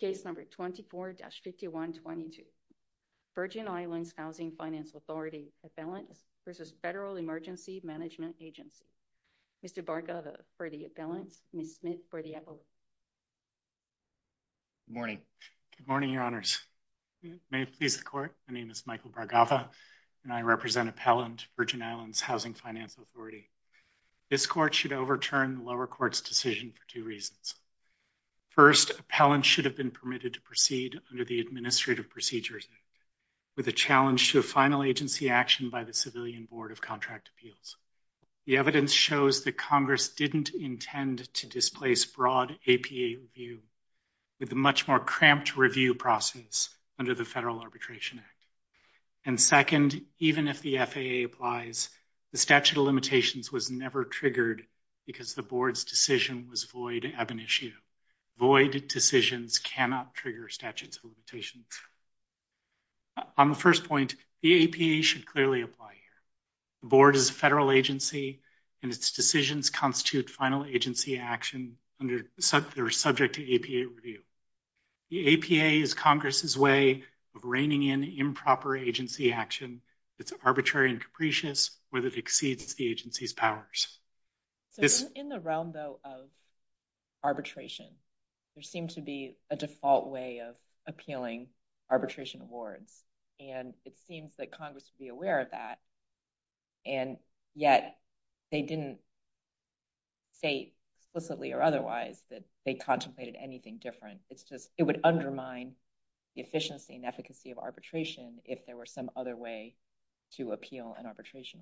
Case number 24-5122, Virgin Islands Housing Finance Authority, appellants versus Federal Emergency Management Agency. Mr. Bhargava for the appellants, Ms. Smith for the appellants. Good morning. Good morning, Your Honors. May it please the Court. My name is Michael Bhargava and I represent appellant, Virgin Islands Housing Finance Authority. This Court should overturn the lower court's decision for two reasons. First, appellants should have been permitted to proceed under the administrative procedures with a challenge to a final agency action by the Civilian Board of Contract Appeals. The evidence shows that Congress didn't intend to displace broad APA review with a much more cramped review process under the Federal Arbitration Act. And second, even if the FAA applies, the statute of limitations was never triggered because the Board's decision was void ab initio. Void decisions cannot trigger statutes of limitations. On the first point, the APA should clearly apply here. The Board is a federal agency and its decisions constitute final agency action under subject to APA review. The APA is Congress's way of reining in improper agency action that's arbitrary and capricious whether it exceeds the agency's powers. So in the realm though of arbitration, there seemed to be a default way of appealing arbitration awards and it seems that Congress would be aware of that and yet they didn't say explicitly or otherwise that they contemplated anything different. It's just it would undermine the efficiency and efficacy of if there were some other way to appeal an arbitration.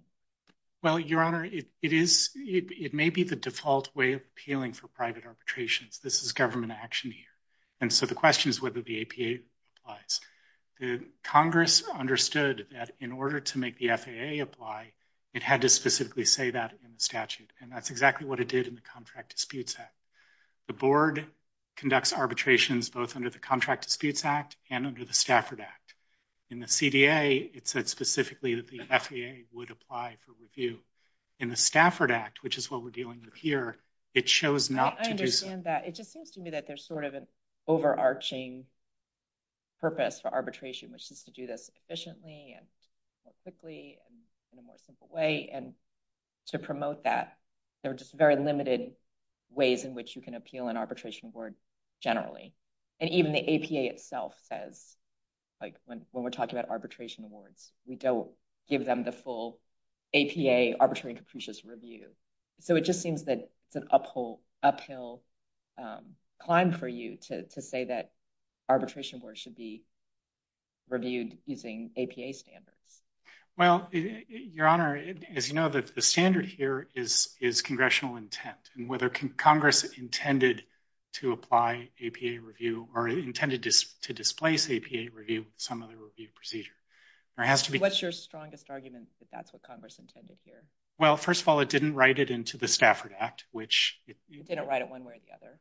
Well, Your Honor, it may be the default way of appealing for private arbitrations. This is government action here. And so the question is whether the APA applies. Congress understood that in order to make the FAA apply, it had to specifically say that in the statute and that's exactly what it did in the Contract Disputes Act. The Board conducts arbitrations both under the Contract Disputes Act and under the Stafford Act. In the CDA, it said specifically that the FAA would apply for review. In the Stafford Act, which is what we're dealing with here, it chose not to do so. I understand that. It just seems to me that there's sort of an overarching purpose for arbitration, which is to do this efficiently and quickly and in a more simple way. And to promote that, there are just very limited ways in which you can appeal an arbitration award generally. And even the APA says, when we're talking about arbitration awards, we don't give them the full APA arbitrary and capricious review. So it just seems that it's an uphill climb for you to say that arbitration awards should be reviewed using APA standards. Well, Your Honor, as you know, the standard here is congressional intent. And whether Congress intended to apply APA review or intended to displace APA review with some other review procedure, there has to be... What's your strongest argument that that's what Congress intended here? Well, first of all, it didn't write it into the Stafford Act, which... It didn't write it one way or the other.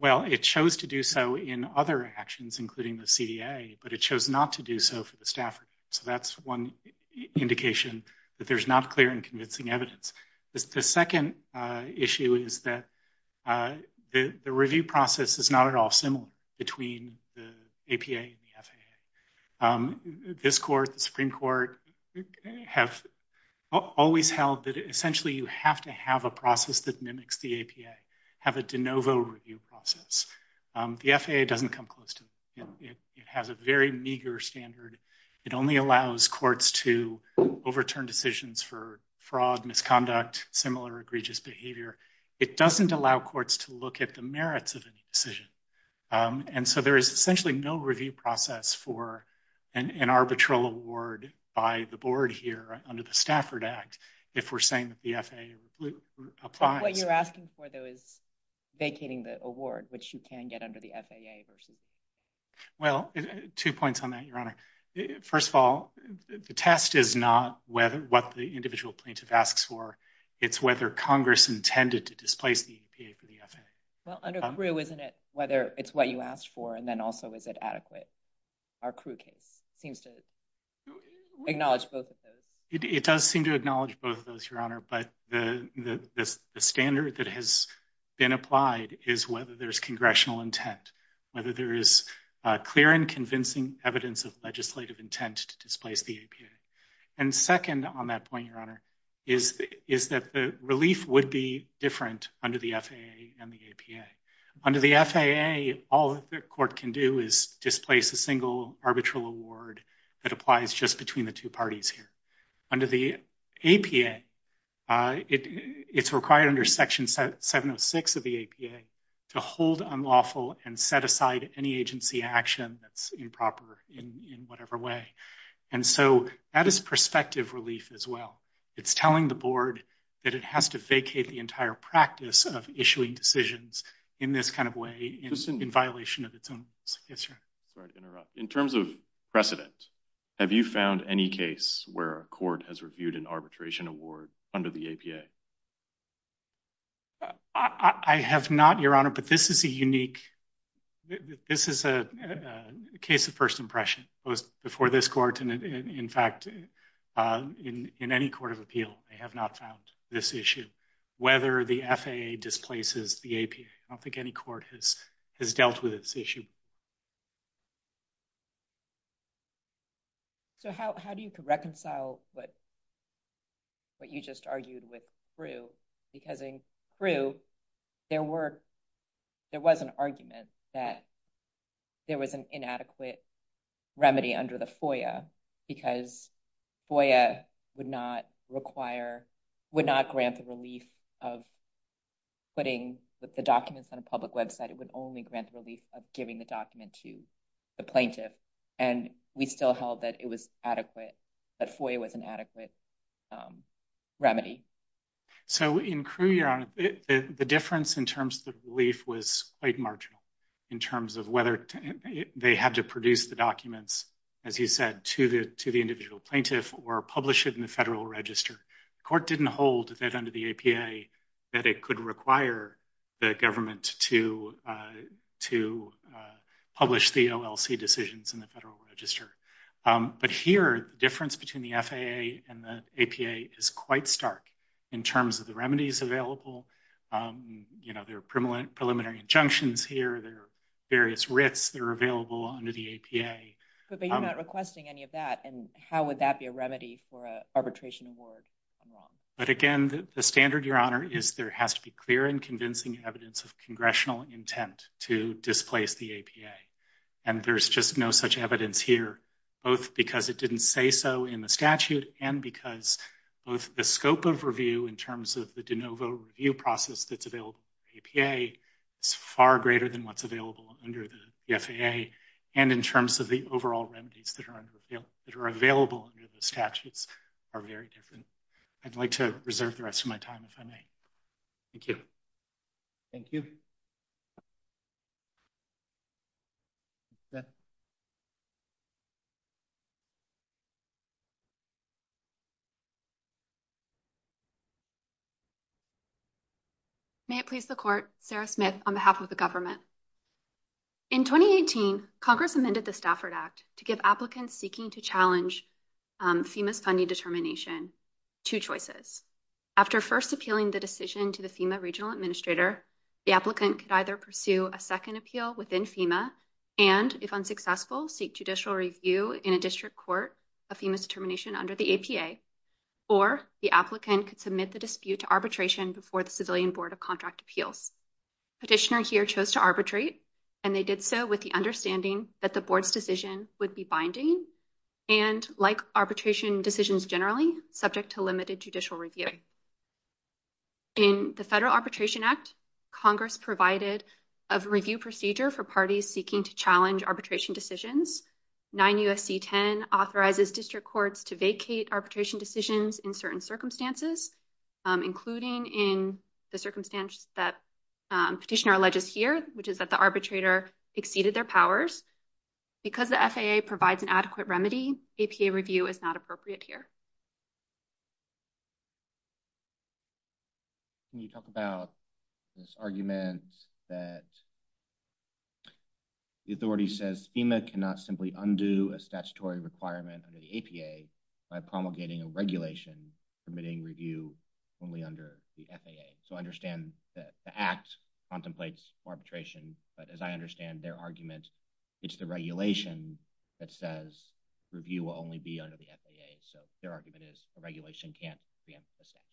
Well, it chose to do so in other actions, including the CDA, but it chose not to do so for the Stafford Act. So that's one indication that there's not clear and convincing evidence. The second issue is that the review process is not at all similar between the APA and the FAA. This court, the Supreme Court, have always held that essentially you have to have a process that mimics the APA, have a de novo review process. The FAA doesn't come close to that. It has a very meager standard. It only allows courts to overturn decisions for fraud, misconduct, similar egregious behavior. It doesn't allow courts to look at the merits of any decision. And so there is essentially no review process for an arbitral award by the board here under the Stafford Act if we're saying that the FAA applies. What you're asking for, though, is vacating the award, which you can get under the FAA versus... Well, two points on that, Your Honor. First of all, the test is not what the individual plaintiff asks for. It's whether Congress intended to displace the APA for the FAA. Well, under CRU, isn't it whether it's what you asked for and then also is it adequate? Our CRU case seems to acknowledge both of those. It does seem to acknowledge both of those, Your Honor, but the standard that has been applied is whether there's congressional intent, whether there is clear and convincing evidence of legislative intent to displace the APA. And second on that point, Your Honor, is that the relief would be different under the FAA and the APA. Under the FAA, all the court can do is displace a single arbitral award that applies just between the two parties here. Under the APA, it's required under Section 706 of the APA to hold unlawful and set aside any agency action that's improper in whatever way. And so that is prospective relief as well. It's telling the board that it has to vacate the entire practice of issuing decisions in this kind of way in violation of its own... Yes, sir. In terms of precedent, have you found any case where a court has reviewed an arbitration award under the APA? I have not, Your Honor, but this is a unique... This is a case of first impression. It was before this court and, in fact, in any court of appeal, they have not found this issue, whether the FAA displaces the APA. I don't think any court has dealt with this issue. So how do you reconcile what you just argued with Prue? Because in Prue, there was an argument that there was an inadequate remedy under the FOIA because FOIA would not require, would not grant the relief of putting the documents on a public website. It would only grant the relief of giving the document to the plaintiff. And we still held that it was adequate, that FOIA was an adequate remedy. So in Prue, Your Honor, the difference in terms of the relief was quite marginal in terms of whether they had to produce the documents, as you said, to the individual plaintiff or publish it in the federal register. The court didn't hold that under the APA that it could require the government to publish the OLC decisions in the federal register. But here, the difference between the FAA and the APA is quite stark in terms of the remedies available. There are preliminary injunctions here. There are various writs that are available under the APA. But you're not requesting any of that. And how would that be a remedy for an arbitration award? I'm wrong. But again, the standard, Your Honor, is there has to be clear and convincing evidence of congressional intent to displace the APA. And there's just no such evidence here, both because it didn't say so in the statute and because both the scope of review in terms of the de novo review process that's available in the APA is far greater than what's under the FAA. And in terms of the overall remedies that are available under the statutes are very different. I'd like to reserve the rest of my time, if I may. Thank you. Thank you. May it please the Court, Sarah Smith, on behalf of the government. In 2018, Congress amended the Stafford Act to give applicants seeking to challenge FEMA's funding determination two choices. After first appealing the decision to the FEMA Regional Administrator, the applicant could either pursue a second appeal within FEMA and, if unsuccessful, seek judicial review in a district court of FEMA's determination under the APA. Or the applicant could submit the dispute to arbitration before the Civilian Board of Contract Appeals. Petitioner here chose to arbitrate, and they did so with the understanding that the board's decision would be binding and, like arbitration decisions generally, subject to limited judicial review. In the Federal Arbitration Act, Congress provided a review procedure for parties seeking to challenge arbitration decisions. 9 U.S.C. 10 authorizes district courts to vacate arbitration decisions in certain circumstances, including in the circumstance that petitioner alleges here, which is that the arbitrator exceeded their powers. Because the FAA provides an adequate APA review is not appropriate here. Can you talk about this argument that the authority says FEMA cannot simply undo a statutory requirement under the APA by promulgating a regulation permitting review only under the FAA? So, I understand that the Act contemplates arbitration, but as I understand their argument, it's the regulation that says review will only be under the FAA. So, their argument is the regulation can't preempt the statute.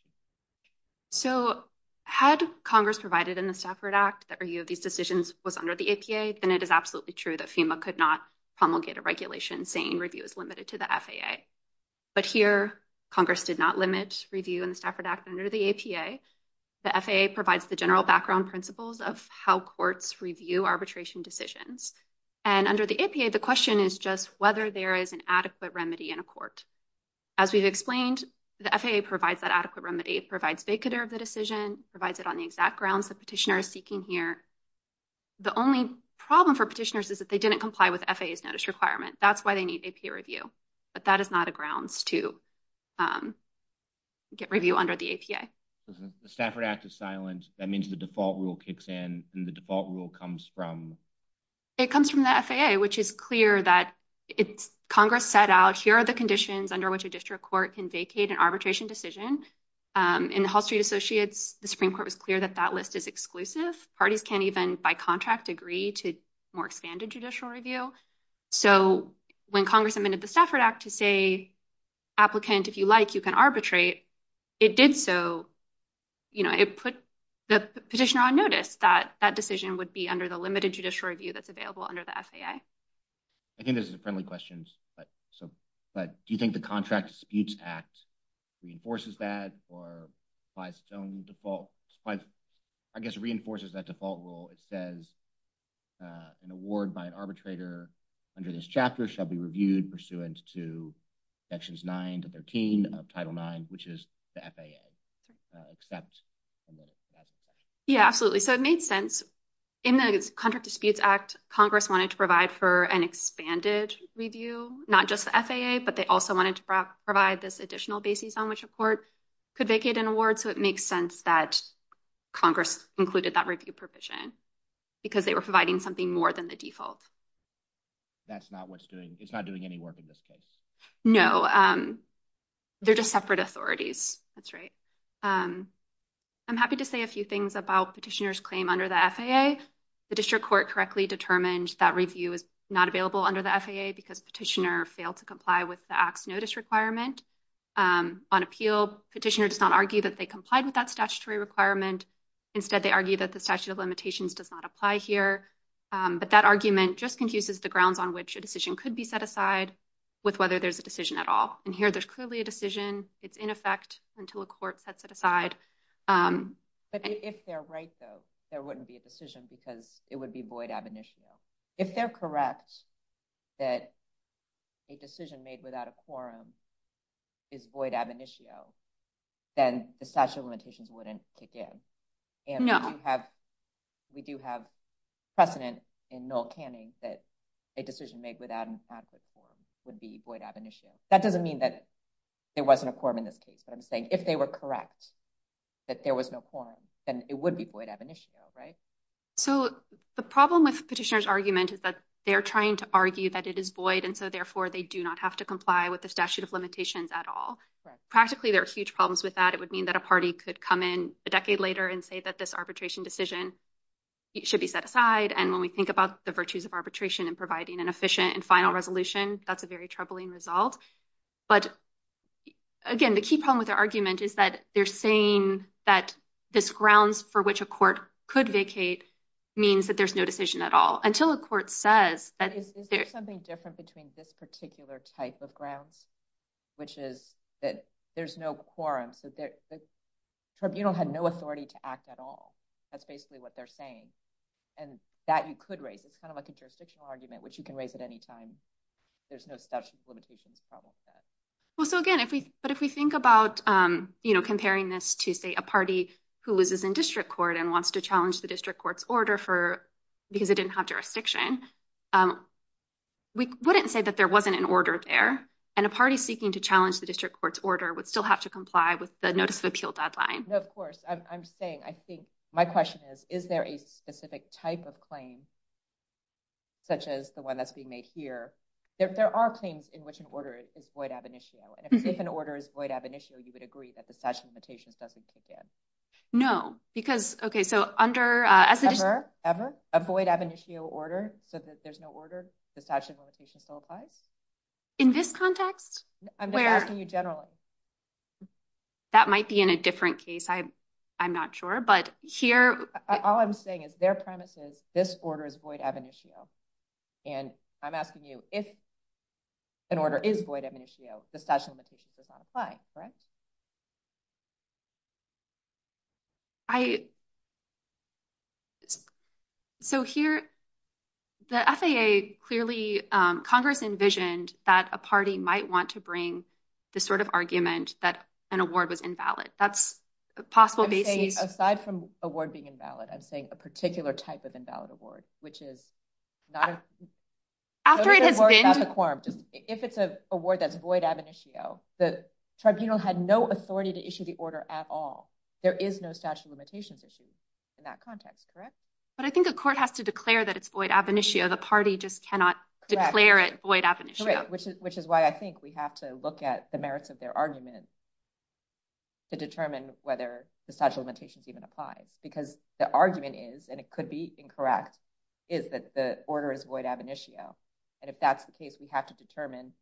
So, had Congress provided in the Stafford Act that review of these decisions was under the APA, then it is absolutely true that FEMA could not promulgate a regulation saying review is limited to the FAA. But here, Congress did not limit review in the Stafford Act under the APA. The FAA provides the general background principles of how courts review arbitration decisions. And under the APA, the question is just whether there is an adequate remedy in a court. As we've explained, the FAA provides that adequate remedy. It provides vacater of the decision, provides it on the exact grounds the petitioner is seeking here. The only problem for petitioners is that they didn't comply with FAA's notice requirement. That's why they need APA review. But that is not a grounds to get review under the APA. The Stafford Act is silent. That means the default rule kicks in and the default rule comes from? It comes from the FAA, which is clear that Congress set out here are the conditions under which a district court can vacate an arbitration decision. In the Hall Street Associates, the Supreme Court was clear that that list is exclusive. Parties can't even, by contract, agree to more expanded judicial review. So, when Congress amended the Stafford Act to say, applicant, if you like, you can arbitrate, it did so. It put the petitioner on notice that that decision would be under the limited judicial review that's available under the FAA. I think this is a friendly question. But do you think the Contract Disputes Act reinforces that or applies its own default? I guess it reinforces that default rule. It says an award by an arbitrator under this chapter shall be reviewed pursuant to sections 9 to 13 of Title IX, which is the FAA. Yeah, absolutely. So, it made sense. In the Contract Disputes Act, Congress wanted to provide for an expanded review, not just the FAA, but they also wanted to provide this additional basis on which a court could vacate an award. So, it makes sense that Congress included that review provision because they were providing something more than the default. That's not what's doing, it's not doing any work in this case. No, they're just separate authorities. That's right. I'm happy to say a few things about petitioner's claim under the FAA. The District Court correctly determined that review is not available under the FAA because petitioner failed to comply with the Act's notice requirement. On appeal, petitioner does not argue that they complied with that statutory requirement. Instead, they argue that the statute of limitations does not apply here. But that argument just confuses the grounds on which a decision could be set aside with whether there's a decision at all. And here, there's clearly a decision. It's in effect until a court sets it aside. But if they're right, though, there wouldn't be a decision because it would void ab initio. If they're correct that a decision made without a quorum is void ab initio, then the statute of limitations wouldn't kick in. And we do have precedent in Noel Canning that a decision made without an ad hoc quorum would be void ab initio. That doesn't mean that there wasn't a quorum in this case, but I'm saying if they were correct that there was no quorum, then it would be void ab initio, right? So the problem with petitioner's argument is that they're trying to argue that it is void, and so therefore they do not have to comply with the statute of limitations at all. Practically, there are huge problems with that. It would mean that a party could come in a decade later and say that this arbitration decision should be set aside. And when we think about the virtues of arbitration and providing an efficient and final resolution, that's a very troubling result. But again, the key problem with the argument is that they're saying that this grounds for which a court could vacate means that there's no decision at all until a court says that there's something different between this particular type of grounds, which is that there's no quorum. So the tribunal had no authority to act at all. That's basically what they're saying. And that you could raise. It's kind of like a jurisdictional argument, which you can raise at any time. There's no statute of limitations problem with that. Well, so again, but if we think about comparing this to, say, a party who loses in district court and wants to challenge the district court's order because it didn't have jurisdiction, we wouldn't say that there wasn't an order there. And a party seeking to challenge the district court's order would still have to comply with the notice of appeal deadline. No, of course. I'm saying, I think, my question is, is there a specific type of claim, such as the one that's being made here? There are claims in which an order is void ab initio. And if an order is void ab initio, you would agree that the statute of limitations doesn't kick in. No, because, okay, so under- Ever? A void ab initio order so that there's no order, the statute of limitations still applies? In this context? I'm just asking you generally. That might be in a different case. I'm not sure, but here- All I'm saying is their premise is this order is void ab initio. And I'm asking you, if an order is void ab initio, the statute of limitations does not apply, correct? So here, the FAA clearly, Congress envisioned that a party might want to bring this sort of argument that an award was invalid. That's possible basis. I'm saying, aside from award being invalid, I'm saying a particular type of invalid award, which is not- After it has been- If it's a award that's void ab initio, the tribunal had no authority to issue the order at all. There is no statute of limitations issue in that context, correct? But I think a court has to declare that it's void ab initio. The party just cannot declare it void ab initio. Correct, which is why I think we have to look at the whether the statute of limitations even applies. Because the argument is, and it could be incorrect, is that the order is void ab initio. And if that's the case, we have to determine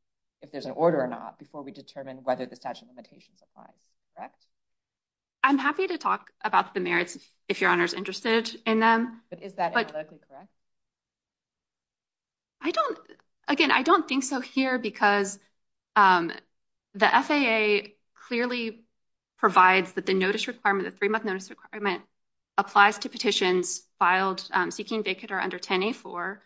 if there's an order or not before we determine whether the statute of limitations applies, correct? I'm happy to talk about the merits if your honor's interested in them. But is that notice requirement, the three-month notice requirement, applies to petitions filed seeking vacate or under 10A4,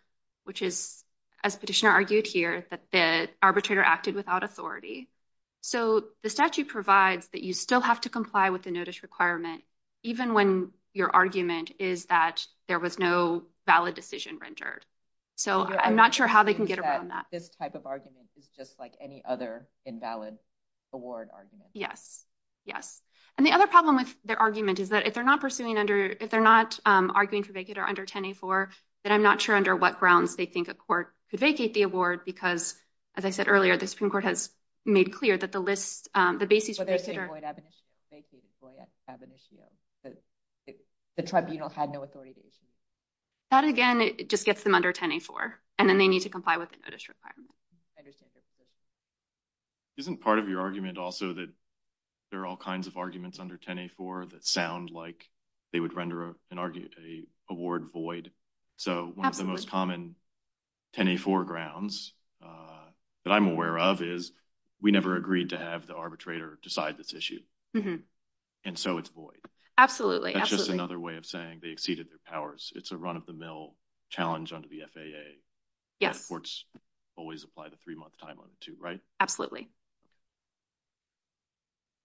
which is, as petitioner argued here, that the arbitrator acted without authority. So the statute provides that you still have to comply with the notice requirement, even when your argument is that there was no valid decision rendered. So I'm not sure how they can get around that. This type of argument is just like any other invalid award argument. Yes, yes. And the other problem with their argument is that if they're not pursuing under, if they're not arguing for vacate or under 10A4, then I'm not sure under what grounds they think a court could vacate the award. Because, as I said earlier, the Supreme Court has made clear that the list, the basis for this is void ab initio, vacated void ab initio. The tribunal had no authority to issue it. That again, it just gets them under 10A4. And then they need to comply with the notice requirement. I understand their position. Isn't part of your argument also that there are all kinds of arguments under 10A4 that sound like they would render a award void? So one of the most common 10A4 grounds that I'm aware of is we never agreed to have the arbitrator decide this issue. And so it's void. Absolutely. That's just another way of saying they exceeded their powers. It's a run-of-the-mill challenge under the FAA. Yes. Courts always apply the three-month time on it too, right? Absolutely.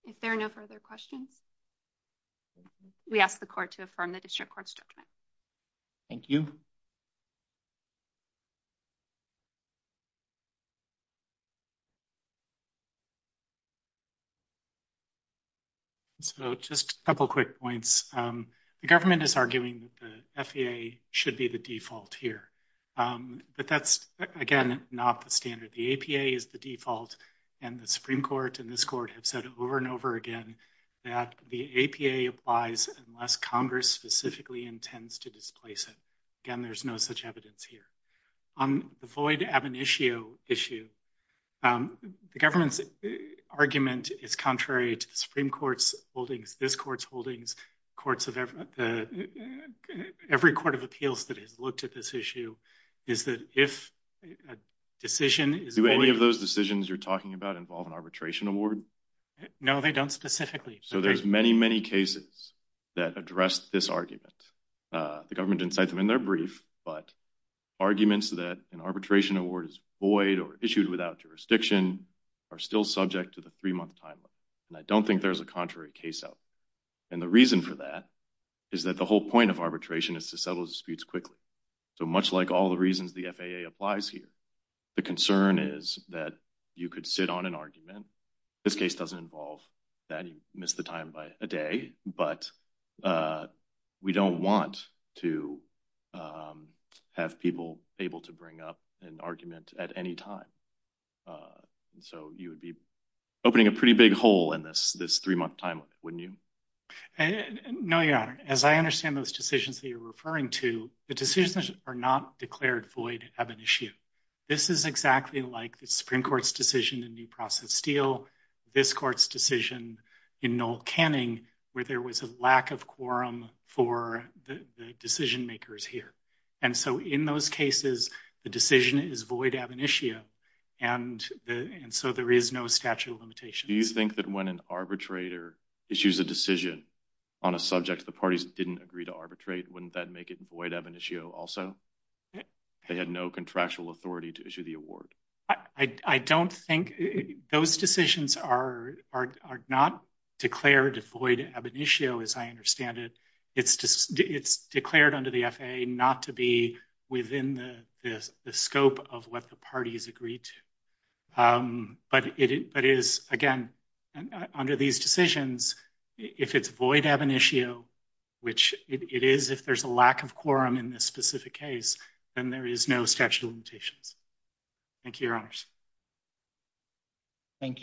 If there are no further questions, we ask the court to affirm the district court's judgment. Thank you. So just a couple of quick points. The government is arguing that the FAA should be the default here. But that's, again, not the standard. The APA is the default. And the Supreme Court and this court have said over and over again that the APA applies unless Congress specifically intends to displace it. Again, there's no such evidence here. On the void ab initio issue, the government's argument is contrary to the Supreme Court's holdings, this court's holdings, every court of appeals that has looked at this issue, is that if a decision is— Do any of those decisions you're talking about involve an arbitration award? No, they don't specifically. So there's many, many cases that address this argument. The government didn't cite them in their brief, but arguments that an arbitration award is void or issued without jurisdiction are still subject to the three-month time limit. And I don't think there's a contrary case out there. And the reason for that is that the whole point of arbitration is to settle disputes quickly. So much like all the reasons the FAA applies here, the concern is that you could sit on an argument. This case doesn't involve that. You miss the time by a day. But we don't want to have people able to bring up an argument at any time. So you would be opening a pretty big hole in this three-month time limit, wouldn't you? No, Your Honor. As I understand those decisions that you're referring to, the decisions are not declared void ab initio. This is exactly like Supreme Court's decision in New Process Steel, this court's decision in Noel Canning, where there was a lack of quorum for the decision makers here. And so in those cases, the decision is void ab initio. And so there is no statute of limitations. Do you think that when an arbitrator issues a decision on a subject the parties didn't agree to arbitrate, wouldn't that make it void ab initio also? They had no contractual authority to issue the award. I don't think those decisions are not declared void ab initio, as I understand it. It's declared under the FAA not to be within the scope of what the parties agreed to. But again, under these decisions, if it's void ab initio, which it is if there's a Thank you, Your Honors. Thank you.